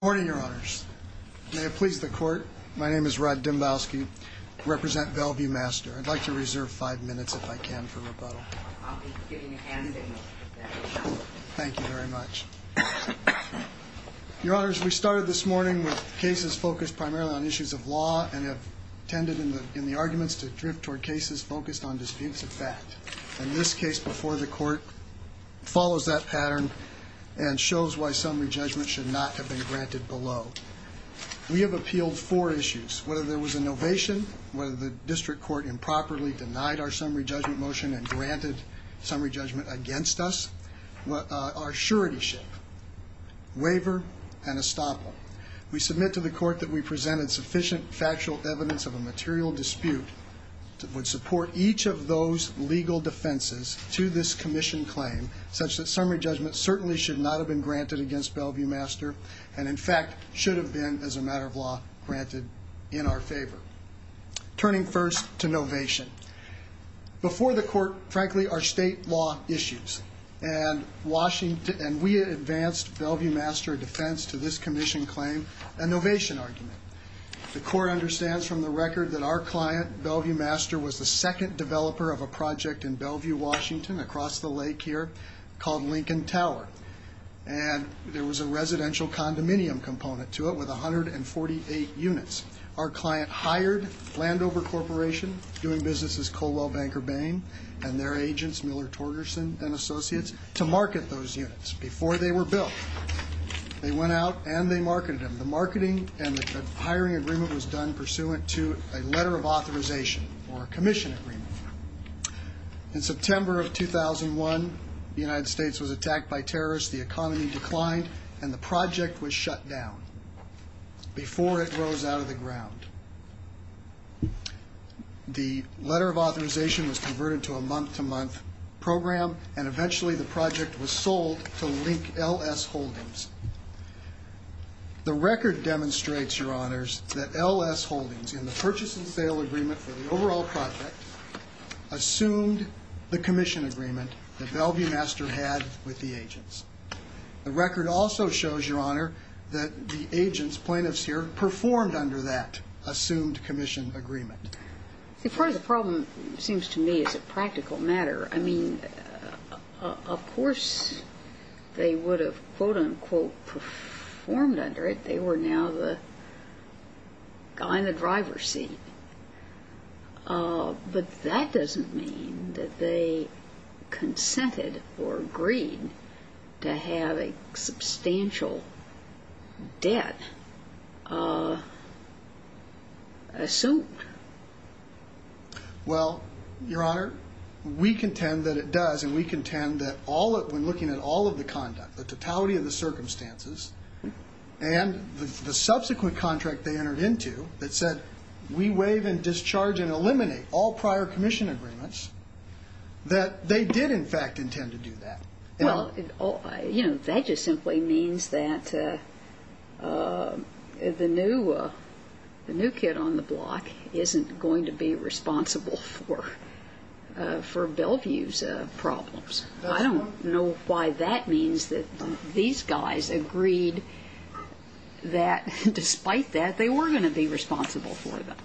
Good morning, Your Honors. May it please the Court, my name is Rod Dymbowski. I represent Bellevue Master. I'd like to reserve five minutes, if I can, for rebuttal. I'll be giving a hand in most of that. Thank you very much. Your Honors, we started this morning with cases focused primarily on issues of law and have tended, in the arguments, to drift toward cases focused on disputes of fact. And this case before the Court follows that pattern and shows why summary judgment should not have been granted below. We have appealed four issues, whether there was an ovation, whether the District Court improperly denied our summary judgment motion and granted summary judgment against us. Our surety ship, waiver, and estoppel. We submit to the Court that we presented sufficient factual evidence of a material dispute that would support each of those legal defenses to this Commission claim, such that summary judgment certainly should not have been granted against Bellevue Master and, in fact, should have been, as a matter of law, granted in our favor. Turning first to novation. Before the Court, frankly, our state law issues. And we advanced Bellevue Master defense to this Commission claim, a novation argument. The Court understands from the record that our client, Bellevue Master, was the second developer of a project in Bellevue, Washington, across the lake here, called Lincoln Tower. And there was a residential condominium component to it with 148 units. Our client hired Landover Corporation, doing business as Colwell Banker Bain and their agents, Miller Torgerson and Associates, to market those units before they were built. They went out and they marketed them. The marketing and the hiring agreement was done pursuant to a letter of authorization or a Commission agreement. In September of 2001, the United States was attacked by terrorists, the economy declined, and the project was shut down. Before it rose out of the ground. The letter of authorization was converted to a month-to-month program, and eventually the project was sold to Link LS Holdings. The record demonstrates, Your Honors, that LS Holdings, in the purchase and sale agreement for the overall project, assumed the Commission agreement that Bellevue Master had with the agents. The record also shows, Your Honor, that the agents, plaintiffs here, performed under that assumed Commission agreement. Part of the problem, it seems to me, is a practical matter. I mean, of course they would have, quote-unquote, performed under it. They were now the guy in the driver's seat. But that doesn't mean that they consented or agreed to have a substantial debt assumed. Well, Your Honor, we contend that it does. And we contend that when looking at all of the conduct, the totality of the circumstances, and the subsequent contract they entered into that said, we waive and discharge and eliminate all prior Commission agreements, that they did, in fact, intend to do that. Well, you know, that just simply means that the new kid on the block isn't going to be responsible for Bellevue's problems. I don't know why that means that these guys agreed that, despite that, they were going to be responsible for them.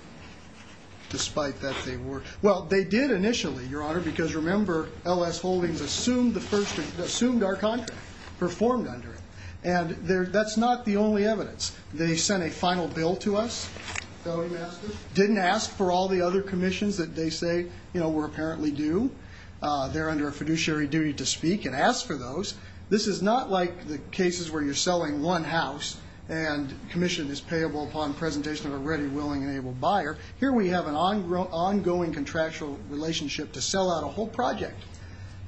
Well, they did initially, Your Honor, because, remember, L.S. Holdings assumed our contract, performed under it. And that's not the only evidence. They sent a final bill to us, didn't ask for all the other Commissions that they say were apparently due. They're under a fiduciary duty to speak and ask for those. This is not like the cases where you're selling one house and Commission is payable upon presentation of a ready, willing, and able buyer. Here we have an ongoing contractual relationship to sell out a whole project.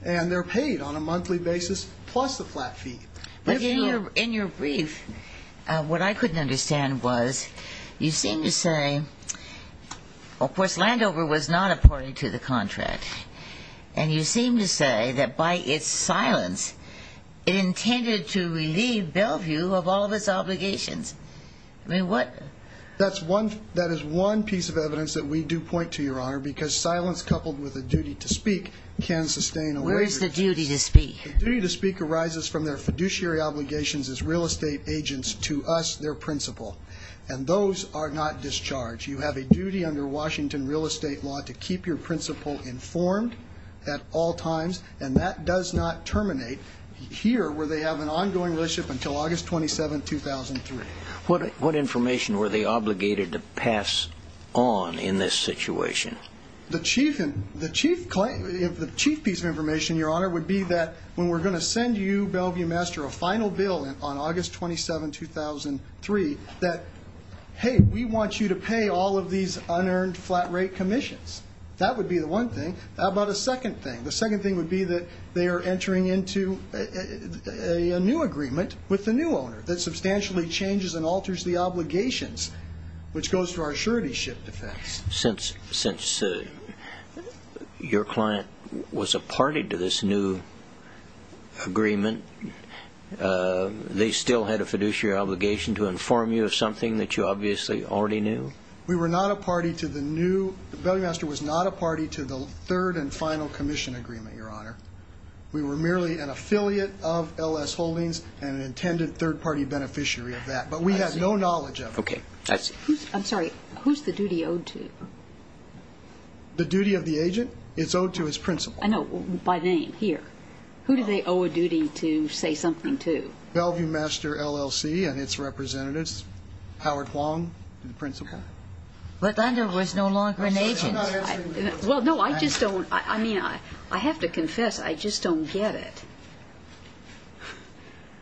And they're paid on a monthly basis, plus the flat fee. But in your brief, what I couldn't understand was you seem to say, of course, Landover was not a party to the contract. And you seem to say that by its silence, it intended to relieve Bellevue of all of its obligations. I mean, what? That is one piece of evidence that we do point to, Your Honor, because silence coupled with a duty to speak can sustain a waiver. Where is the duty to speak? The duty to speak arises from their fiduciary obligations as real estate agents to us, their principal. And those are not discharged. You have a duty under Washington real estate law to keep your principal informed at all times. And that does not terminate here where they have an ongoing relationship until August 27, 2003. What information were they obligated to pass on in this situation? The chief piece of information, Your Honor, would be that when we're going to send you, Bellevue Master, a final bill on August 27, 2003, that, hey, we want you to pay all of these unearned flat rate commissions. That would be the one thing. How about a second thing? The second thing would be that they are entering into a new agreement with the new owner that substantially changes and alters the obligations, which goes to our surety ship defense. Since your client was a party to this new agreement, they still had a fiduciary obligation to inform you of something that you obviously already knew? We were not a party to the new. Bellevue Master was not a party to the third and final commission agreement, Your Honor. We were merely an affiliate of L.S. Holdings and an intended third-party beneficiary of that. But we had no knowledge of it. Okay. I'm sorry. Who's the duty owed to? The duty of the agent? It's owed to his principal. I know. By name. Here. Who do they owe a duty to say something to? Bellevue Master, L.L.C., and its representatives. Howard Huang, the principal. But Thunder was no longer an agent. Well, no, I just don't. I mean, I have to confess, I just don't get it.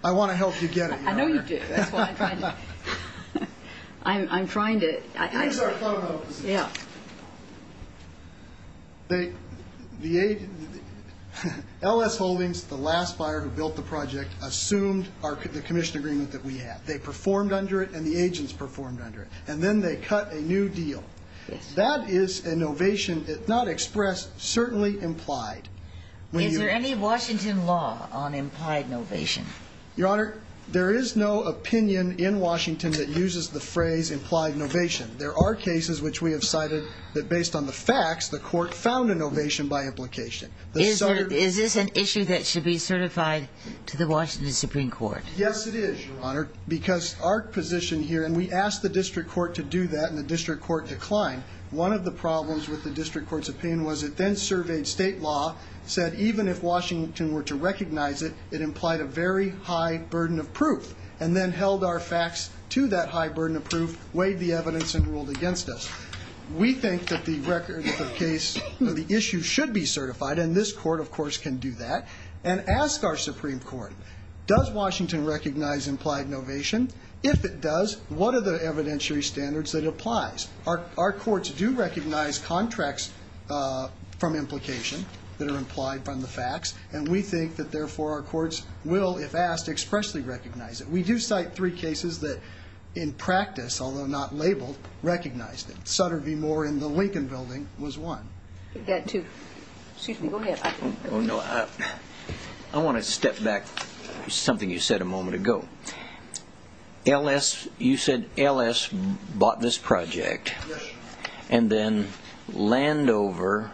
I want to help you get it, Your Honor. I know you do. That's why I'm trying to. I'm trying to. Here's our phone numbers. Yeah. L.S. Holdings, the last buyer who built the project, assumed the commission agreement that we had. They performed under it and the agents performed under it. And then they cut a new deal. That is a novation not expressed, certainly implied. Is there any Washington law on implied novation? Your Honor, there is no opinion in Washington that uses the phrase implied novation. There are cases which we have cited that, based on the facts, the court found a novation by implication. Is this an issue that should be certified to the Washington Supreme Court? Yes, it is, Your Honor, because our position here, and we asked the district court to do that, and the district court declined. One of the problems with the district court's opinion was it then surveyed state law, said even if Washington were to recognize it, it implied a very high burden of proof, and then held our facts to that high burden of proof, weighed the evidence, and ruled against us. We think that the record of the case, the issue should be certified, and this court, of course, can do that, and ask our Supreme Court, does Washington recognize implied novation? If it does, what are the evidentiary standards that it applies? Our courts do recognize contracts from implication that are implied from the facts, and we think that, therefore, our courts will, if asked, expressly recognize it. We do cite three cases that, in practice, although not labeled, recognized it. Sutter v. Moore in the Lincoln Building was one. We've got two. Excuse me. Go ahead. I want to step back to something you said a moment ago. L.S. You said L.S. bought this project. Yes. And then Landover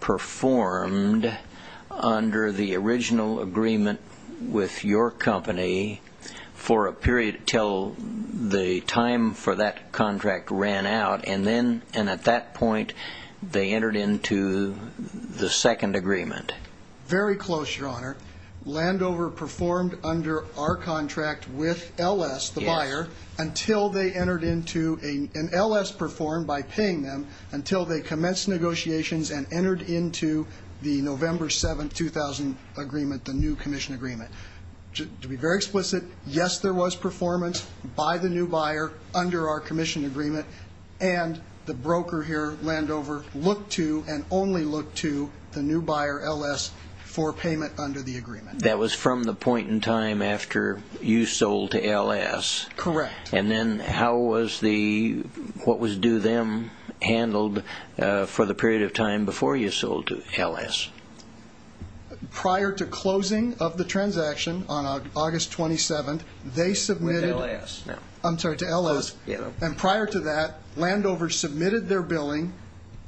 performed under the original agreement with your company for a period until the time for that contract ran out, and then at that point they entered into the second agreement. Very close, Your Honor. Landover performed under our contract with L.S., the buyer, until they entered into an L.S. performed by paying them until they commenced negotiations and entered into the November 7, 2000 agreement, the new commission agreement. To be very explicit, yes, there was performance by the new buyer under our commission agreement, and the broker here, Landover, looked to and only looked to the new buyer, L.S., for payment under the agreement. That was from the point in time after you sold to L.S.? Correct. And then how was the what was due them handled for the period of time before you sold to L.S.? Prior to closing of the transaction on August 27, they submitted to L.S. And prior to that, Landover submitted their billing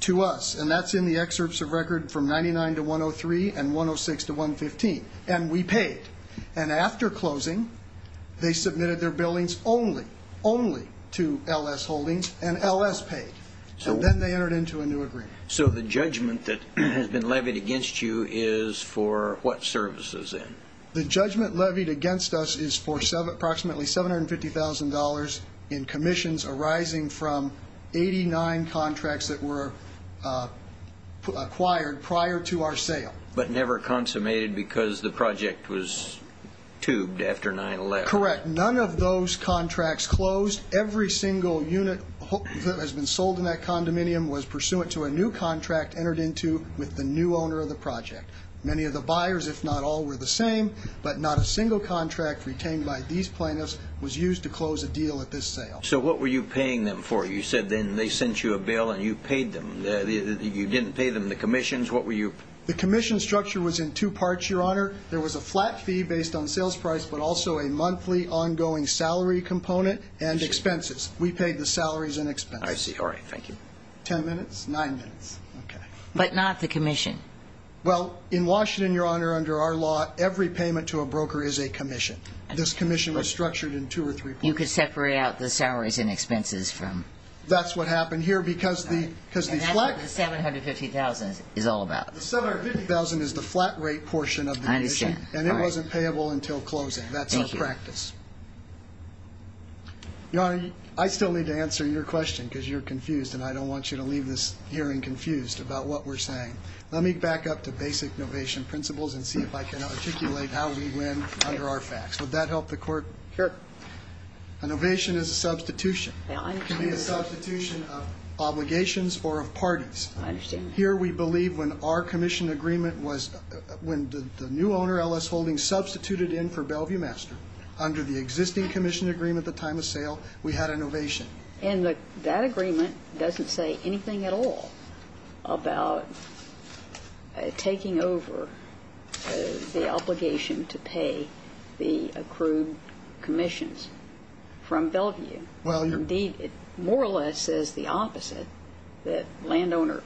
to us, and that's in the excerpts of record from 99 to 103 and 106 to 115, and we paid. And after closing, they submitted their billings only, only to L.S. Holdings, and L.S. paid. And then they entered into a new agreement. So the judgment that has been levied against you is for what services then? The judgment levied against us is for approximately $750,000 in commissions arising from 89 contracts that were acquired prior to our sale. But never consummated because the project was tubed after 9-11? Correct. None of those contracts closed. Every single unit that has been sold in that condominium was pursuant to a new contract entered into with the new owner of the project. Many of the buyers, if not all, were the same. But not a single contract retained by these plaintiffs was used to close a deal at this sale. So what were you paying them for? You said then they sent you a bill and you paid them. You didn't pay them the commissions. What were you? The commission structure was in two parts, Your Honor. There was a flat fee based on sales price but also a monthly ongoing salary component and expenses. We paid the salaries and expenses. I see. All right. Thank you. Ten minutes? Nine minutes. Okay. But not the commission? Well, in Washington, Your Honor, under our law, every payment to a broker is a commission. This commission was structured in two or three parts. You could separate out the salaries and expenses from? That's what happened here because these flat rates. And that's what the $750,000 is all about. The $750,000 is the flat rate portion of the commission. I understand. And it wasn't payable until closing. Thank you. That's our practice. Your Honor, I still need to answer your question because you're confused and I don't want you to leave this hearing confused about what we're saying. Let me back up to basic novation principles and see if I can articulate how we win under our facts. Would that help the court? Sure. A novation is a substitution. It can be a substitution of obligations or of parties. I understand. Here we believe when our commission agreement was when the new owner, L.S. Holdings, substituted in for Bellevue Master, under the existing commission agreement at the time of sale, we had a novation. And that agreement doesn't say anything at all about taking over the obligation to pay the accrued commissions from Bellevue. Indeed, it more or less says the opposite, that landowner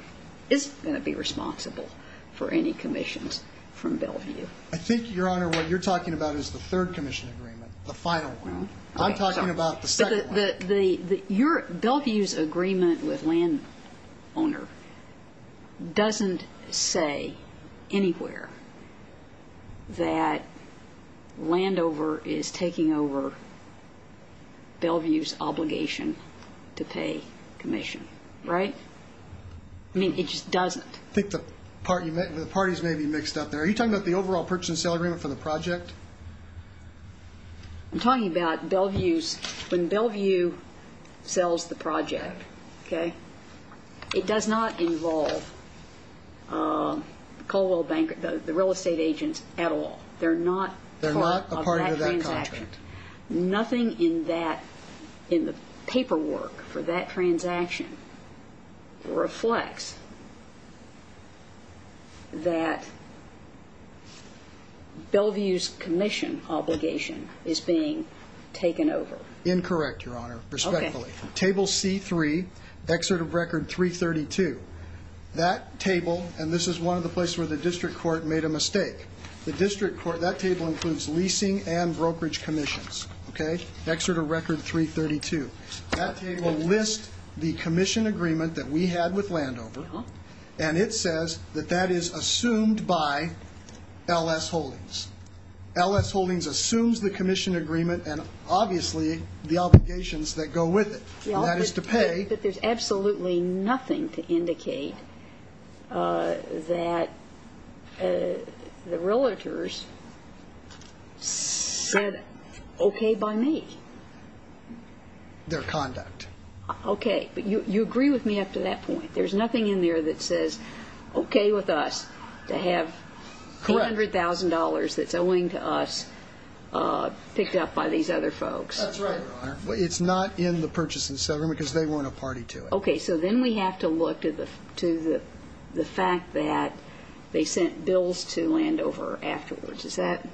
isn't going to be responsible for any commissions from Bellevue. I think, Your Honor, what you're talking about is the third commission agreement, the final one. I'm talking about the second one. Bellevue's agreement with landowner doesn't say anywhere that Landover is taking over Bellevue's obligation to pay commission. Right? I mean, it just doesn't. I think the parties may be mixed up there. Are you talking about the overall purchase and sale agreement for the project? I'm talking about Bellevue's. When Bellevue sells the project, okay, it does not involve Colwell Bank, the real estate agents, at all. They're not part of that transaction. Nothing in the paperwork for that transaction reflects that Bellevue's commission obligation is being taken over. Incorrect, Your Honor. Okay. Respectfully. Table C-3, Excerpt of Record 332. That table, and this is one of the places where the district court made a mistake. That table includes leasing and brokerage commissions. Okay? Excerpt of Record 332. That table lists the commission agreement that we had with Landover, and it says that that is assumed by L.S. Holdings. L.S. Holdings assumes the commission agreement and, obviously, the obligations that go with it, and that is to pay. But there's absolutely nothing to indicate that the realtors said okay by me. Their conduct. Okay. But you agree with me up to that point. There's nothing in there that says okay with us to have $800,000 that's owing to us picked up by these other folks. That's right, Your Honor. It's not in the purchase and sale agreement because they weren't a party to it. Okay. So then we have to look to the fact that they sent bills to Landover afterwards. Is that?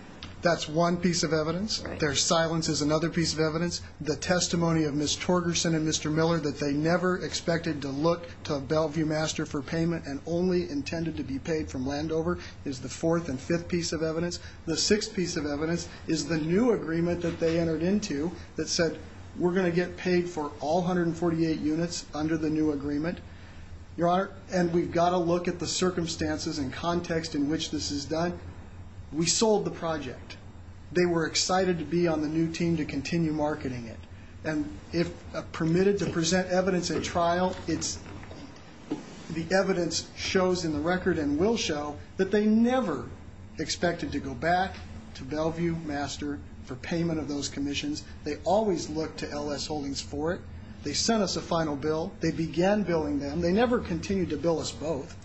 That's one piece of evidence. Right. Their silence is another piece of evidence. The testimony of Ms. Torgerson and Mr. Miller that they never expected to look to Bellevue Master for payment and only intended to be paid from Landover is the fourth and fifth piece of evidence. The sixth piece of evidence is the new agreement that they entered into that said we're going to get paid for all 148 units under the new agreement. Your Honor, and we've got to look at the circumstances and context in which this is done. We sold the project. They were excited to be on the new team to continue marketing it. And if permitted to present evidence at trial, the evidence shows in the record and will show that they never expected to go back to Bellevue Master for payment of those commissions. They always looked to L.S. Holdings for it. They sent us a final bill. They began billing them. They never continued to bill us both.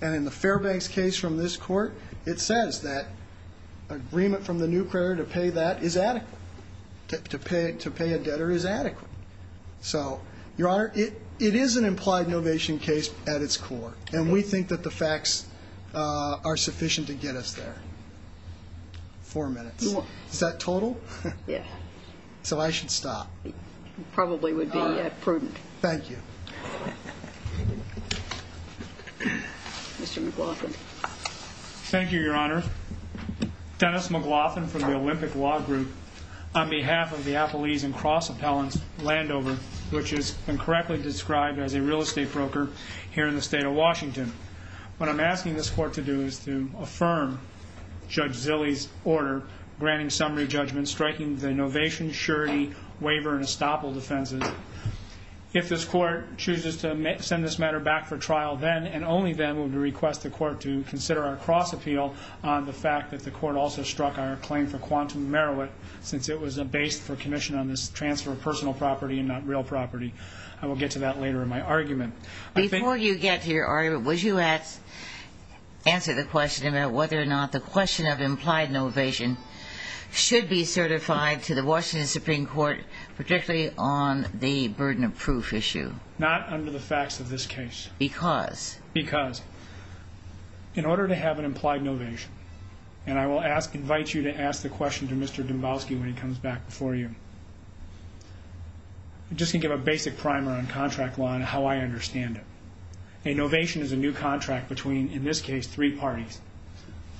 And in the Fairbanks case from this court, it says that agreement from the new creditor to pay that is adequate, to pay a debtor is adequate. So, Your Honor, it is an implied novation case at its core, and we think that the facts are sufficient to get us there. Four minutes. Is that total? Yeah. So I should stop. It probably would be prudent. Thank you. Mr. McLaughlin. Thank you, Your Honor. Dennis McLaughlin from the Olympic Law Group. On behalf of the Appellees and Cross Appellants Landover, which is incorrectly described as a real estate broker here in the state of Washington, what I'm asking this court to do is to affirm Judge Zilley's order granting summary judgment, striking the novation, surety, waiver, and estoppel defenses. If this court chooses to send this matter back for trial then and only then, we would request the court to consider our cross appeal on the fact that the court also struck our claim for quantum merit, since it was based for commission on this transfer of personal property and not real property. I will get to that later in my argument. Before you get to your argument, would you answer the question about whether or not the question of implied novation should be certified to the Washington Supreme Court, particularly on the burden of proof issue? Not under the facts of this case. Because? Because. In order to have an implied novation, and I will invite you to ask the question to Mr. Dombowski when he comes back before you, I'm just going to give a basic primer on contract law and how I understand it. A novation is a new contract between, in this case, three parties.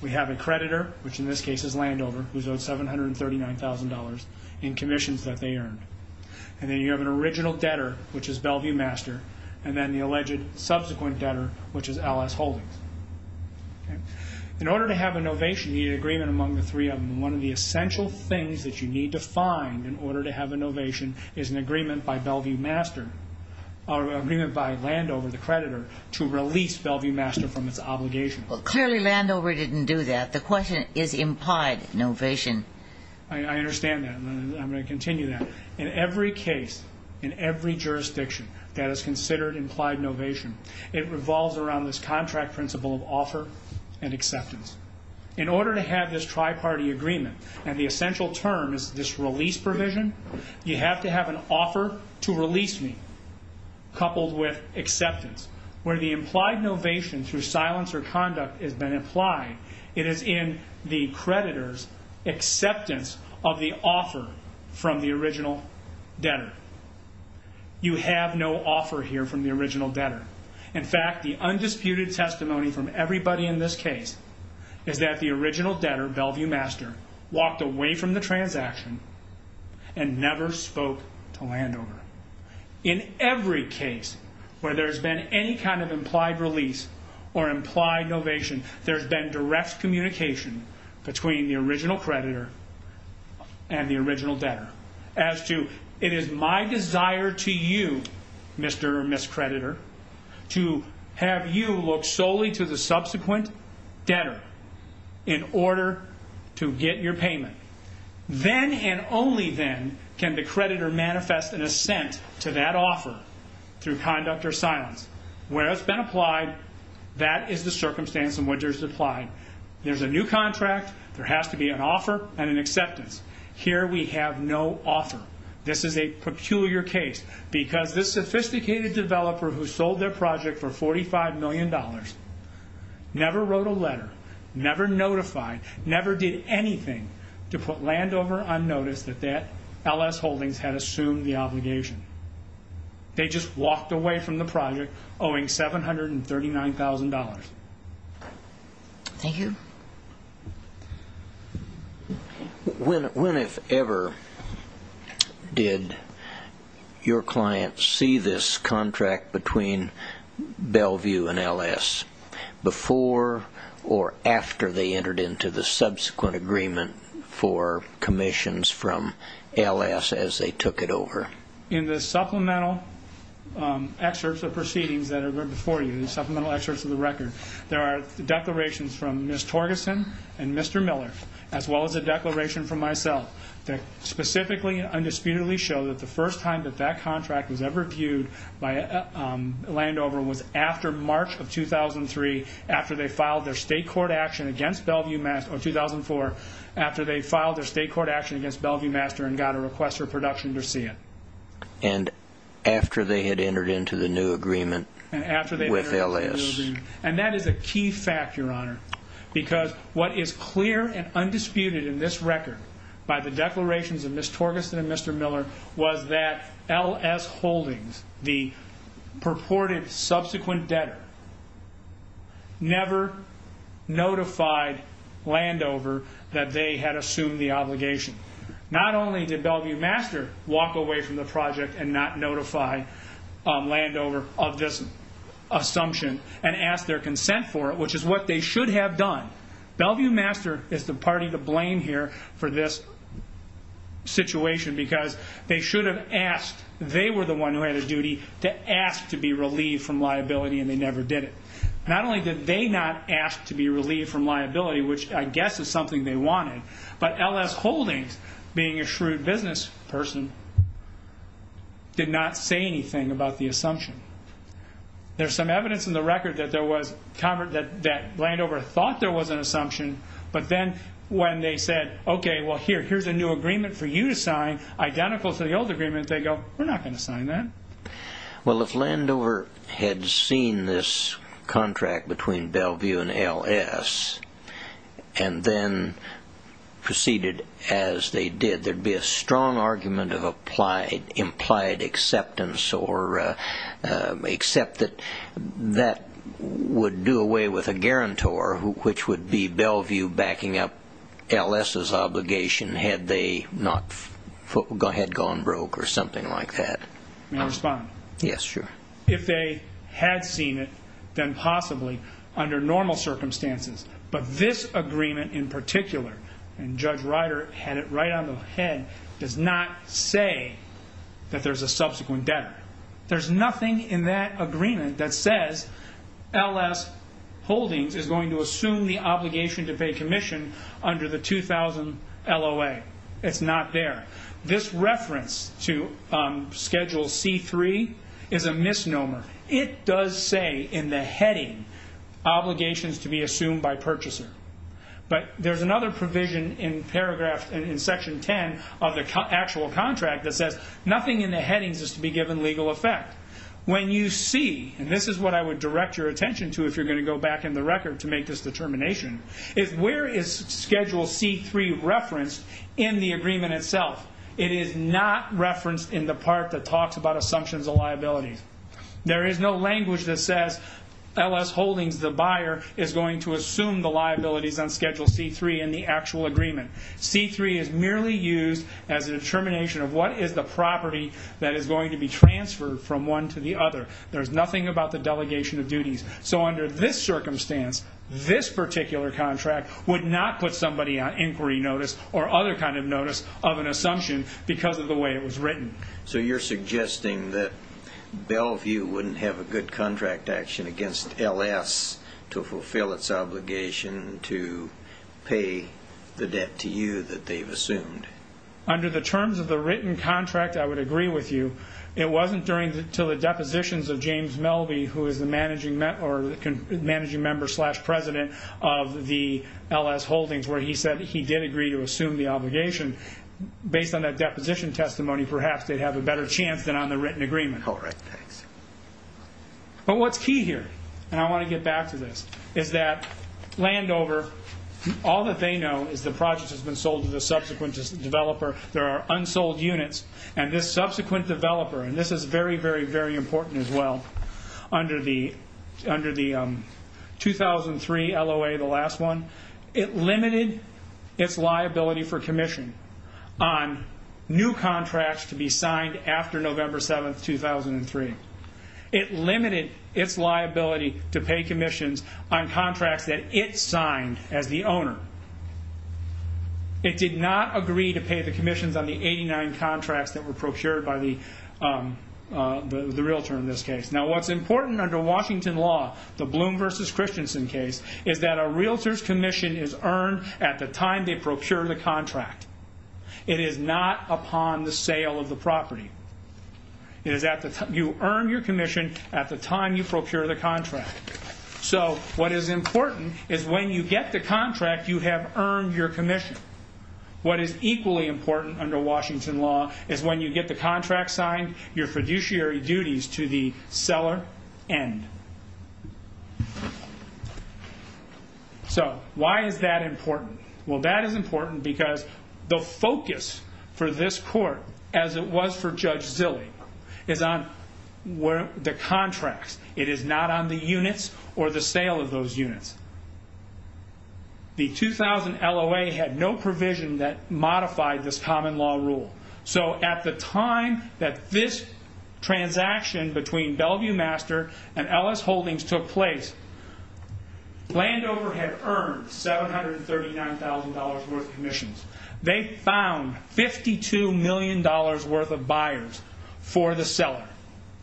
We have a creditor, which in this case is Landover, who's owed $739,000 in commissions that they earned. And then you have an original debtor, which is Bellevue Master, and then the alleged subsequent debtor, which is Alice Holdings. In order to have a novation, you need agreement among the three of them. One of the essential things that you need to find in order to have a novation is an agreement by Bellevue Master, or an agreement by Landover, the creditor, to release Bellevue Master from its obligation. Well, clearly Landover didn't do that. The question is implied novation. I understand that, and I'm going to continue that. In every case, in every jurisdiction, that is considered implied novation, it revolves around this contract principle of offer and acceptance. In order to have this tri-party agreement, and the essential term is this release provision, you have to have an offer to release me coupled with acceptance, where the implied novation through silence or conduct has been applied. It is in the creditor's acceptance of the offer from the original debtor. You have no offer here from the original debtor. In fact, the undisputed testimony from everybody in this case is that the original debtor, Bellevue Master, walked away from the transaction and never spoke to Landover. In every case where there's been any kind of implied release or implied novation, there's been direct communication between the original creditor and the original debtor. As to, it is my desire to you, Mr. or Ms. Creditor, to have you look solely to the subsequent debtor in order to get your payment. Then and only then can the creditor manifest an assent to that offer through conduct or silence. Where it's been applied, that is the circumstance in which it's applied. There's a new contract, there has to be an offer and an acceptance. Here we have no offer. This is a peculiar case because this sophisticated developer who sold their project for $45 million never wrote a letter, never notified, never did anything to put Landover on notice that LS Holdings had assumed the obligation. They just walked away from the project owing $739,000. Thank you. When, if ever, did your client see this contract between Bellevue and LS? Before or after they entered into the subsequent agreement for commissions from LS as they took it over? In the supplemental excerpts of proceedings that are before you, there are declarations from Ms. Torgerson and Mr. Miller as well as a declaration from myself that specifically and undisputedly show that the first time that that contract was ever viewed by Landover was after March of 2003, after they filed their state court action against Bellevue Master, or 2004, after they filed their state court action against Bellevue Master and got a request for production to see it. And after they had entered into the new agreement with LS. And that is a key fact, Your Honor, because what is clear and undisputed in this record by the declarations of Ms. Torgerson and Mr. Miller was that LS Holdings, the purported subsequent debtor, never notified Landover that they had assumed the obligation. Not only did Bellevue Master walk away from the project and not notify Landover of this assumption and ask their consent for it, which is what they should have done. Bellevue Master is the party to blame here for this situation because they should have asked, they were the one who had a duty to ask to be relieved from liability and they never did it. Not only did they not ask to be relieved from liability, which I guess is something they wanted, but LS Holdings, being a shrewd business person, did not say anything about the assumption. There's some evidence in the record that Landover thought there was an assumption, but then when they said, okay, here's a new agreement for you to sign, identical to the old agreement, they go, we're not going to sign that. Well, if Landover had seen this contract between Bellevue and LS and then proceeded as they did, there'd be a strong argument of implied acceptance except that that would do away with a guarantor, which would be Bellevue backing up LS's obligation had they not gone broke or something like that. May I respond? Yes, sure. If they had seen it, then possibly under normal circumstances. But this agreement in particular, and Judge Ryder had it right on the head, does not say that there's a subsequent debtor. There's nothing in that agreement that says LS Holdings is going to assume the obligation to pay commission under the 2000 LOA. It's not there. This reference to Schedule C-3 is a misnomer. It does say in the heading obligations to be assumed by purchaser, but there's another provision in paragraph, in Section 10 of the actual contract that says nothing in the headings is to be given legal effect. When you see, and this is what I would direct your attention to if you're going to go back in the record to make this determination, is where is Schedule C-3 referenced in the agreement itself? It is not referenced in the part that talks about assumptions of liabilities. There is no language that says LS Holdings, the buyer, is going to assume the liabilities on Schedule C-3 in the actual agreement. C-3 is merely used as a determination of what is the property that is going to be transferred from one to the other. There's nothing about the delegation of duties. So under this circumstance, this particular contract would not put somebody on inquiry notice or other kind of notice of an assumption because of the way it was written. So you're suggesting that Bellevue wouldn't have a good contract action against LS to fulfill its obligation to pay the debt to you that they've assumed. Under the terms of the written contract, I would agree with you. It wasn't until the depositions of James Melby, who is the managing member-slash-president of the LS Holdings, where he said he did agree to assume the obligation. Based on that deposition testimony, perhaps they'd have a better chance than on the written agreement. But what's key here, and I want to get back to this, is that Landover, all that they know is the project has been sold to the subsequent developer. There are unsold units, and this subsequent developer, and this is very, very, very important as well. Under the 2003 LOA, the last one, it limited its liability for commission on new contracts to be signed after November 7, 2003. It limited its liability to pay commissions on contracts that it signed as the owner. It did not agree to pay the commissions on the 89 contracts that were procured by the realtor in this case. Now, what's important under Washington law, the Bloom v. Christensen case, is that a realtor's commission is earned at the time they procure the contract. It is not upon the sale of the property. So what is important is when you get the contract, you have earned your commission. What is equally important under Washington law is when you get the contract signed, your fiduciary duties to the seller end. So why is that important? Well, that is important because the focus for this court, as it was for Judge Zille, is on the contracts. It is not on the units or the sale of those units. The 2000 LOA had no provision that modified this common law rule. So at the time that this transaction between Bellevue Master and Ellis Holdings took place, Landover had earned $739,000 worth of commissions. They found $52 million worth of buyers for the seller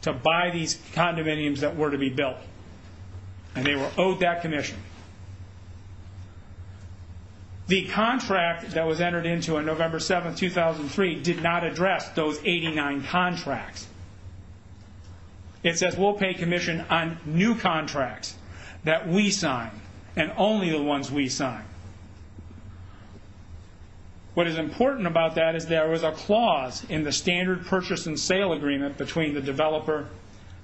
to buy these condominiums that were to be built. And they were owed that commission. The contract that was entered into on November 7, 2003, did not address those 89 contracts. It says we'll pay commission on new contracts that we sign and only the ones we sign. What is important about that is there was a clause in the standard purchase and sale agreement between the developer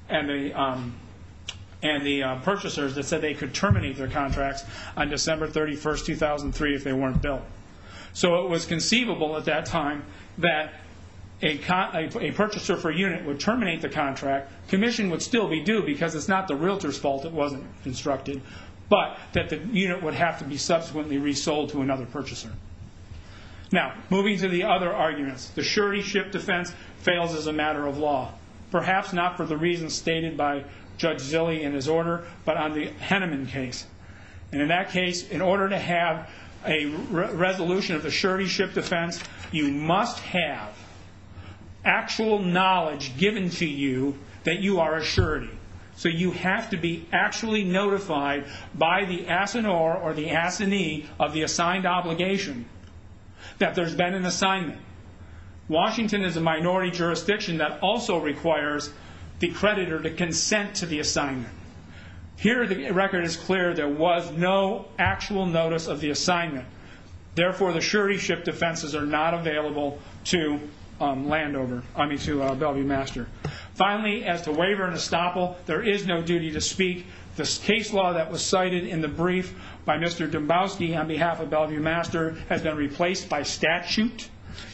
and the purchasers that said they could terminate their contracts on December 31, 2003 if they weren't built. So it was conceivable at that time that a purchaser for a unit would terminate the contract, commission would still be due because it's not the realtor's fault it wasn't constructed, but that the unit would have to be subsequently resold to another purchaser. Now, moving to the other arguments. The surety ship defense fails as a matter of law. Perhaps not for the reasons stated by Judge Zille in his order, but on the Henneman case. And in that case, in order to have a resolution of the surety ship defense, you must have actual knowledge given to you that you are a surety. So you have to be actually notified by the assignor or the assignee of the assigned obligation that there's been an assignment. Washington is a minority jurisdiction that also requires the creditor to consent to the assignment. Here the record is clear there was no actual notice of the assignment. Therefore, the surety ship defenses are not available to Landover, I mean to Bellevue Master. Finally, as to waiver and estoppel, there is no duty to speak. This case law that was cited in the brief by Mr. Dombowski on behalf of Bellevue Master has been replaced by statute.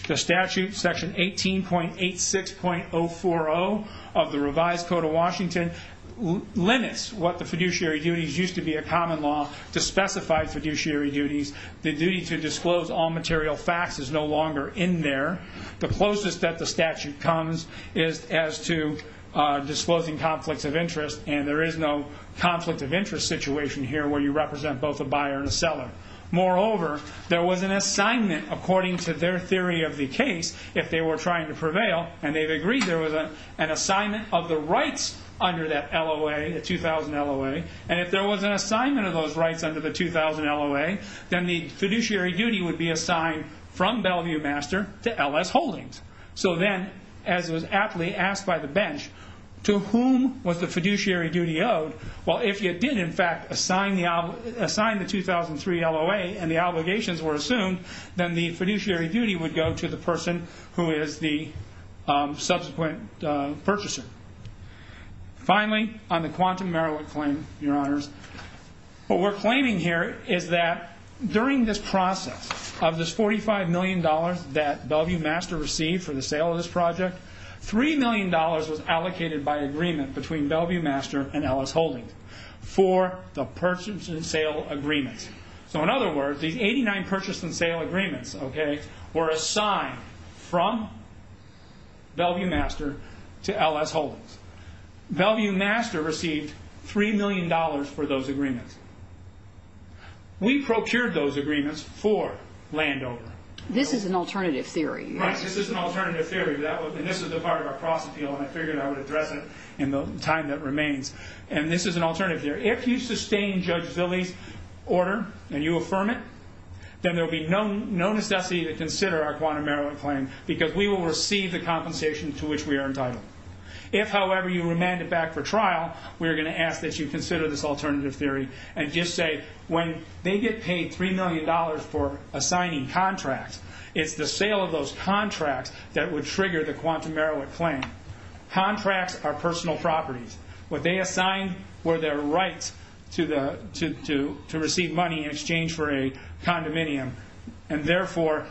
The statute, section 18.86.040 of the revised code of Washington, limits what the fiduciary duties used to be a common law to specified fiduciary duties. The duty to disclose all material facts is no longer in there. The closest that the statute comes is as to disclosing conflicts of interest, and there is no conflict of interest situation here where you represent both a buyer and a seller. Moreover, there was an assignment according to their theory of the case, if they were trying to prevail, and they've agreed there was an assignment of the rights under that LOA, the 2000 LOA. And if there was an assignment of those rights under the 2000 LOA, then the fiduciary duty would be assigned from Bellevue Master to L.S. Holdings. So then, as was aptly asked by the bench, to whom was the fiduciary duty owed? Well, if you did, in fact, assign the 2003 LOA and the obligations were assumed, then the fiduciary duty would go to the person who is the subsequent purchaser. Finally, on the Quantum Merowick claim, Your Honors, what we're claiming here is that during this process of this $45 million that Bellevue Master received for the sale of this project, $3 million was allocated by agreement between Bellevue Master and L.S. Holdings for the purchase and sale agreement. So in other words, these 89 purchase and sale agreements were assigned from Bellevue Master to L.S. Holdings. Bellevue Master received $3 million for those agreements. We procured those agreements for Landover. This is an alternative theory. Right, this is an alternative theory, and this is the part of our process, and I figured I would address it in the time that remains. And this is an alternative theory. If you sustain Judge Zille's order and you affirm it, then there will be no necessity to consider our Quantum Merowick claim because we will receive the compensation to which we are entitled. If, however, you remand it back for trial, we are going to ask that you consider this alternative theory and just say when they get paid $3 million for assigning contracts, it's the sale of those contracts that would trigger the Quantum Merowick claim. Contracts are personal properties. What they assigned were their rights to receive money in exchange for a condominium, and therefore,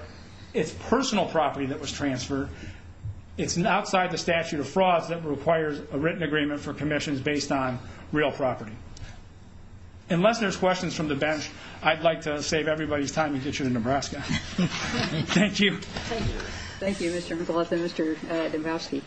it's personal property that was transferred. It's outside the statute of frauds that requires a written agreement for commissions based on real property. Unless there's questions from the bench, I'd like to save everybody's time and get you to Nebraska. Thank you. Thank you, Mr. McAuliffe. Mr. Dembowski.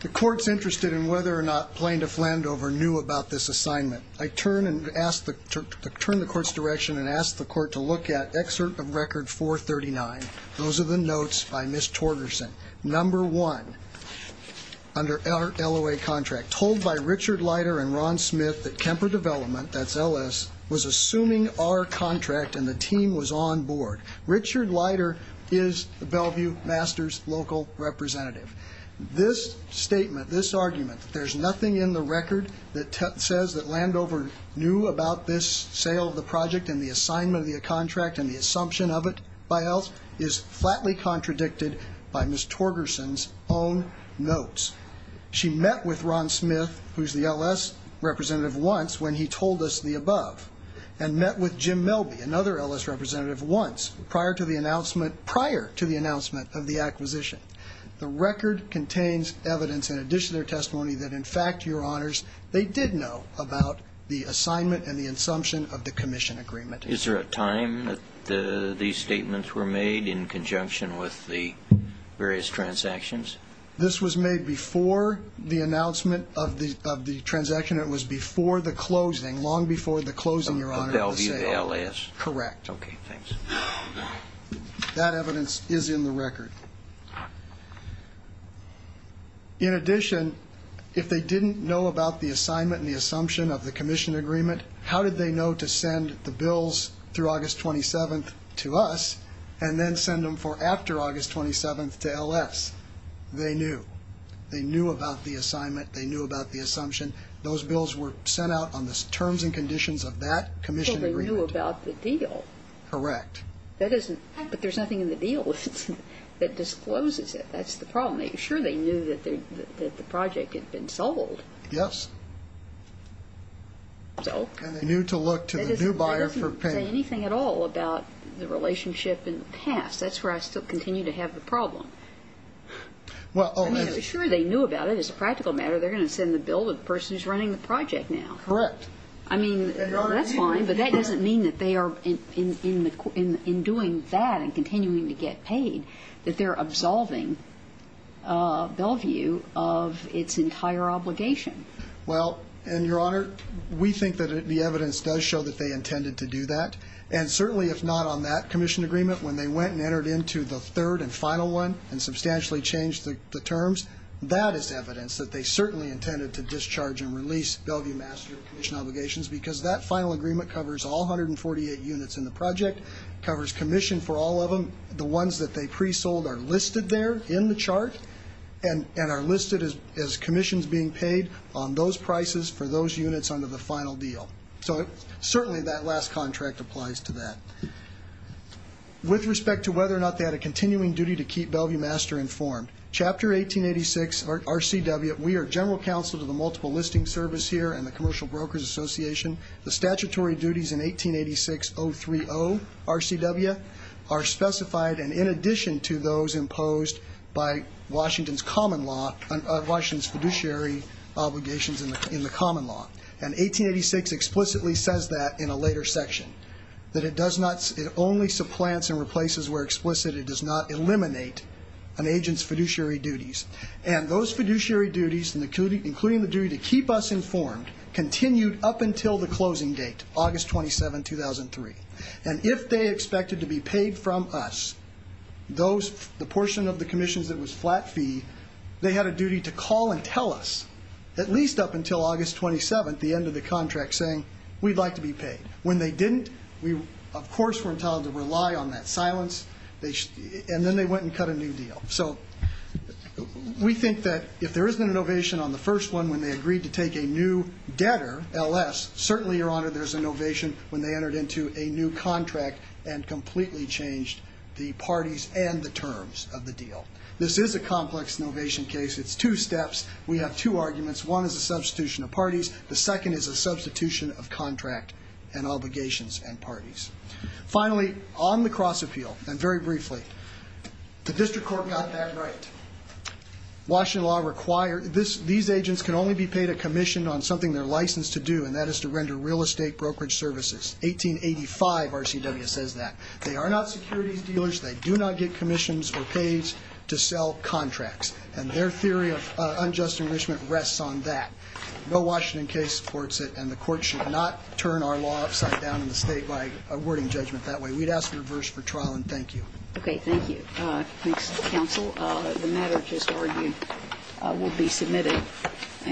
The court's interested in whether or not Plaintiff Landover knew about this assignment. I turn the court's direction and ask the court to look at Excerpt of Record 439. Those are the notes by Ms. Torgerson. Number one, under LOA contract, told by Richard Leiter and Ron Smith that Kemper Development, that's LS, was assuming our contract and the team was on board. Richard Leiter is Bellevue Masters' local representative. This statement, this argument, that there's nothing in the record that says that Landover knew about this sale of the project and the assignment of the contract and the assumption of it by us, is flatly contradicted by Ms. Torgerson's own notes. She met with Ron Smith, who's the LS representative, once when he told us the above, and met with Jim Melby, another LS representative, once, prior to the announcement of the acquisition. The record contains evidence in addition to their testimony that, in fact, Your Honors, they did know about the assignment and the assumption of the commission agreement. Is there a time that these statements were made in conjunction with the various transactions? This was made before the announcement of the transaction. It was before the closing, long before the closing, Your Honor, of the sale. Of Bellevue LS. Correct. Okay, thanks. That evidence is in the record. In addition, if they didn't know about the assignment and the assumption of the commission agreement, how did they know to send the bills through August 27th to us and then send them for after August 27th to LS? They knew. They knew about the assignment. They knew about the assumption. Those bills were sent out on the terms and conditions of that commission agreement. So they knew about the deal. Correct. But there's nothing in the deal that discloses it. That's the problem. Sure, they knew that the project had been sold. Yes. And they knew to look to the new buyer for payment. It doesn't say anything at all about the relationship in the past. That's where I still continue to have the problem. Sure, they knew about it. As a practical matter, they're going to send the bill to the person who's running the project now. Correct. I mean, that's fine, but that doesn't mean that they are, in doing that and continuing to get paid, that they're absolving Bellevue of its entire obligation. Well, and, Your Honor, we think that the evidence does show that they intended to do that. And certainly, if not on that commission agreement, when they went and entered into the third and final one and substantially changed the terms, that is evidence that they certainly intended to discharge and release Bellevue Master Commission obligations because that final agreement covers all 148 units in the project, covers commission for all of them. The ones that they pre-sold are listed there in the chart and are listed as commissions being paid on those prices for those units under the final deal. So certainly that last contract applies to that. With respect to whether or not they had a continuing duty to keep Bellevue Master informed, Chapter 1886 RCW, we are general counsel to the Multiple Listing Service here and the Commercial Brokers Association. The statutory duties in 1886.030 RCW are specified, and in addition to those imposed by Washington's common law, Washington's fiduciary obligations in the common law. And 1886 explicitly says that in a later section, that it only supplants and replaces where explicit. It does not eliminate an agent's fiduciary duties. And those fiduciary duties, including the duty to keep us informed, continued up until the closing date, August 27, 2003. And if they expected to be paid from us, the portion of the commissions that was flat fee, they had a duty to call and tell us, at least up until August 27, the end of the contract saying, we'd like to be paid. When they didn't, we, of course, were entitled to rely on that silence. And then they went and cut a new deal. So we think that if there isn't an ovation on the first one, when they agreed to take a new debtor, L.S., certainly, Your Honor, there's an ovation when they entered into a new contract and completely changed the parties and the terms of the deal. This is a complex ovation case. It's two steps. We have two arguments. One is a substitution of parties. The second is a substitution of contract and obligations and parties. Finally, on the cross appeal, and very briefly, the district court got that right. Washington law required these agents can only be paid a commission on something they're licensed to do, and that is to render real estate brokerage services. 1885 RCW says that. They are not securities dealers. They do not get commissions or pays to sell contracts. And their theory of unjust enrichment rests on that. No Washington case supports it, and the court should not turn our law upside down in the state by awarding judgment that way. We'd ask for reverse for trial, and thank you. Okay. Thank you. Thanks, counsel. The matter just argued will be submitted.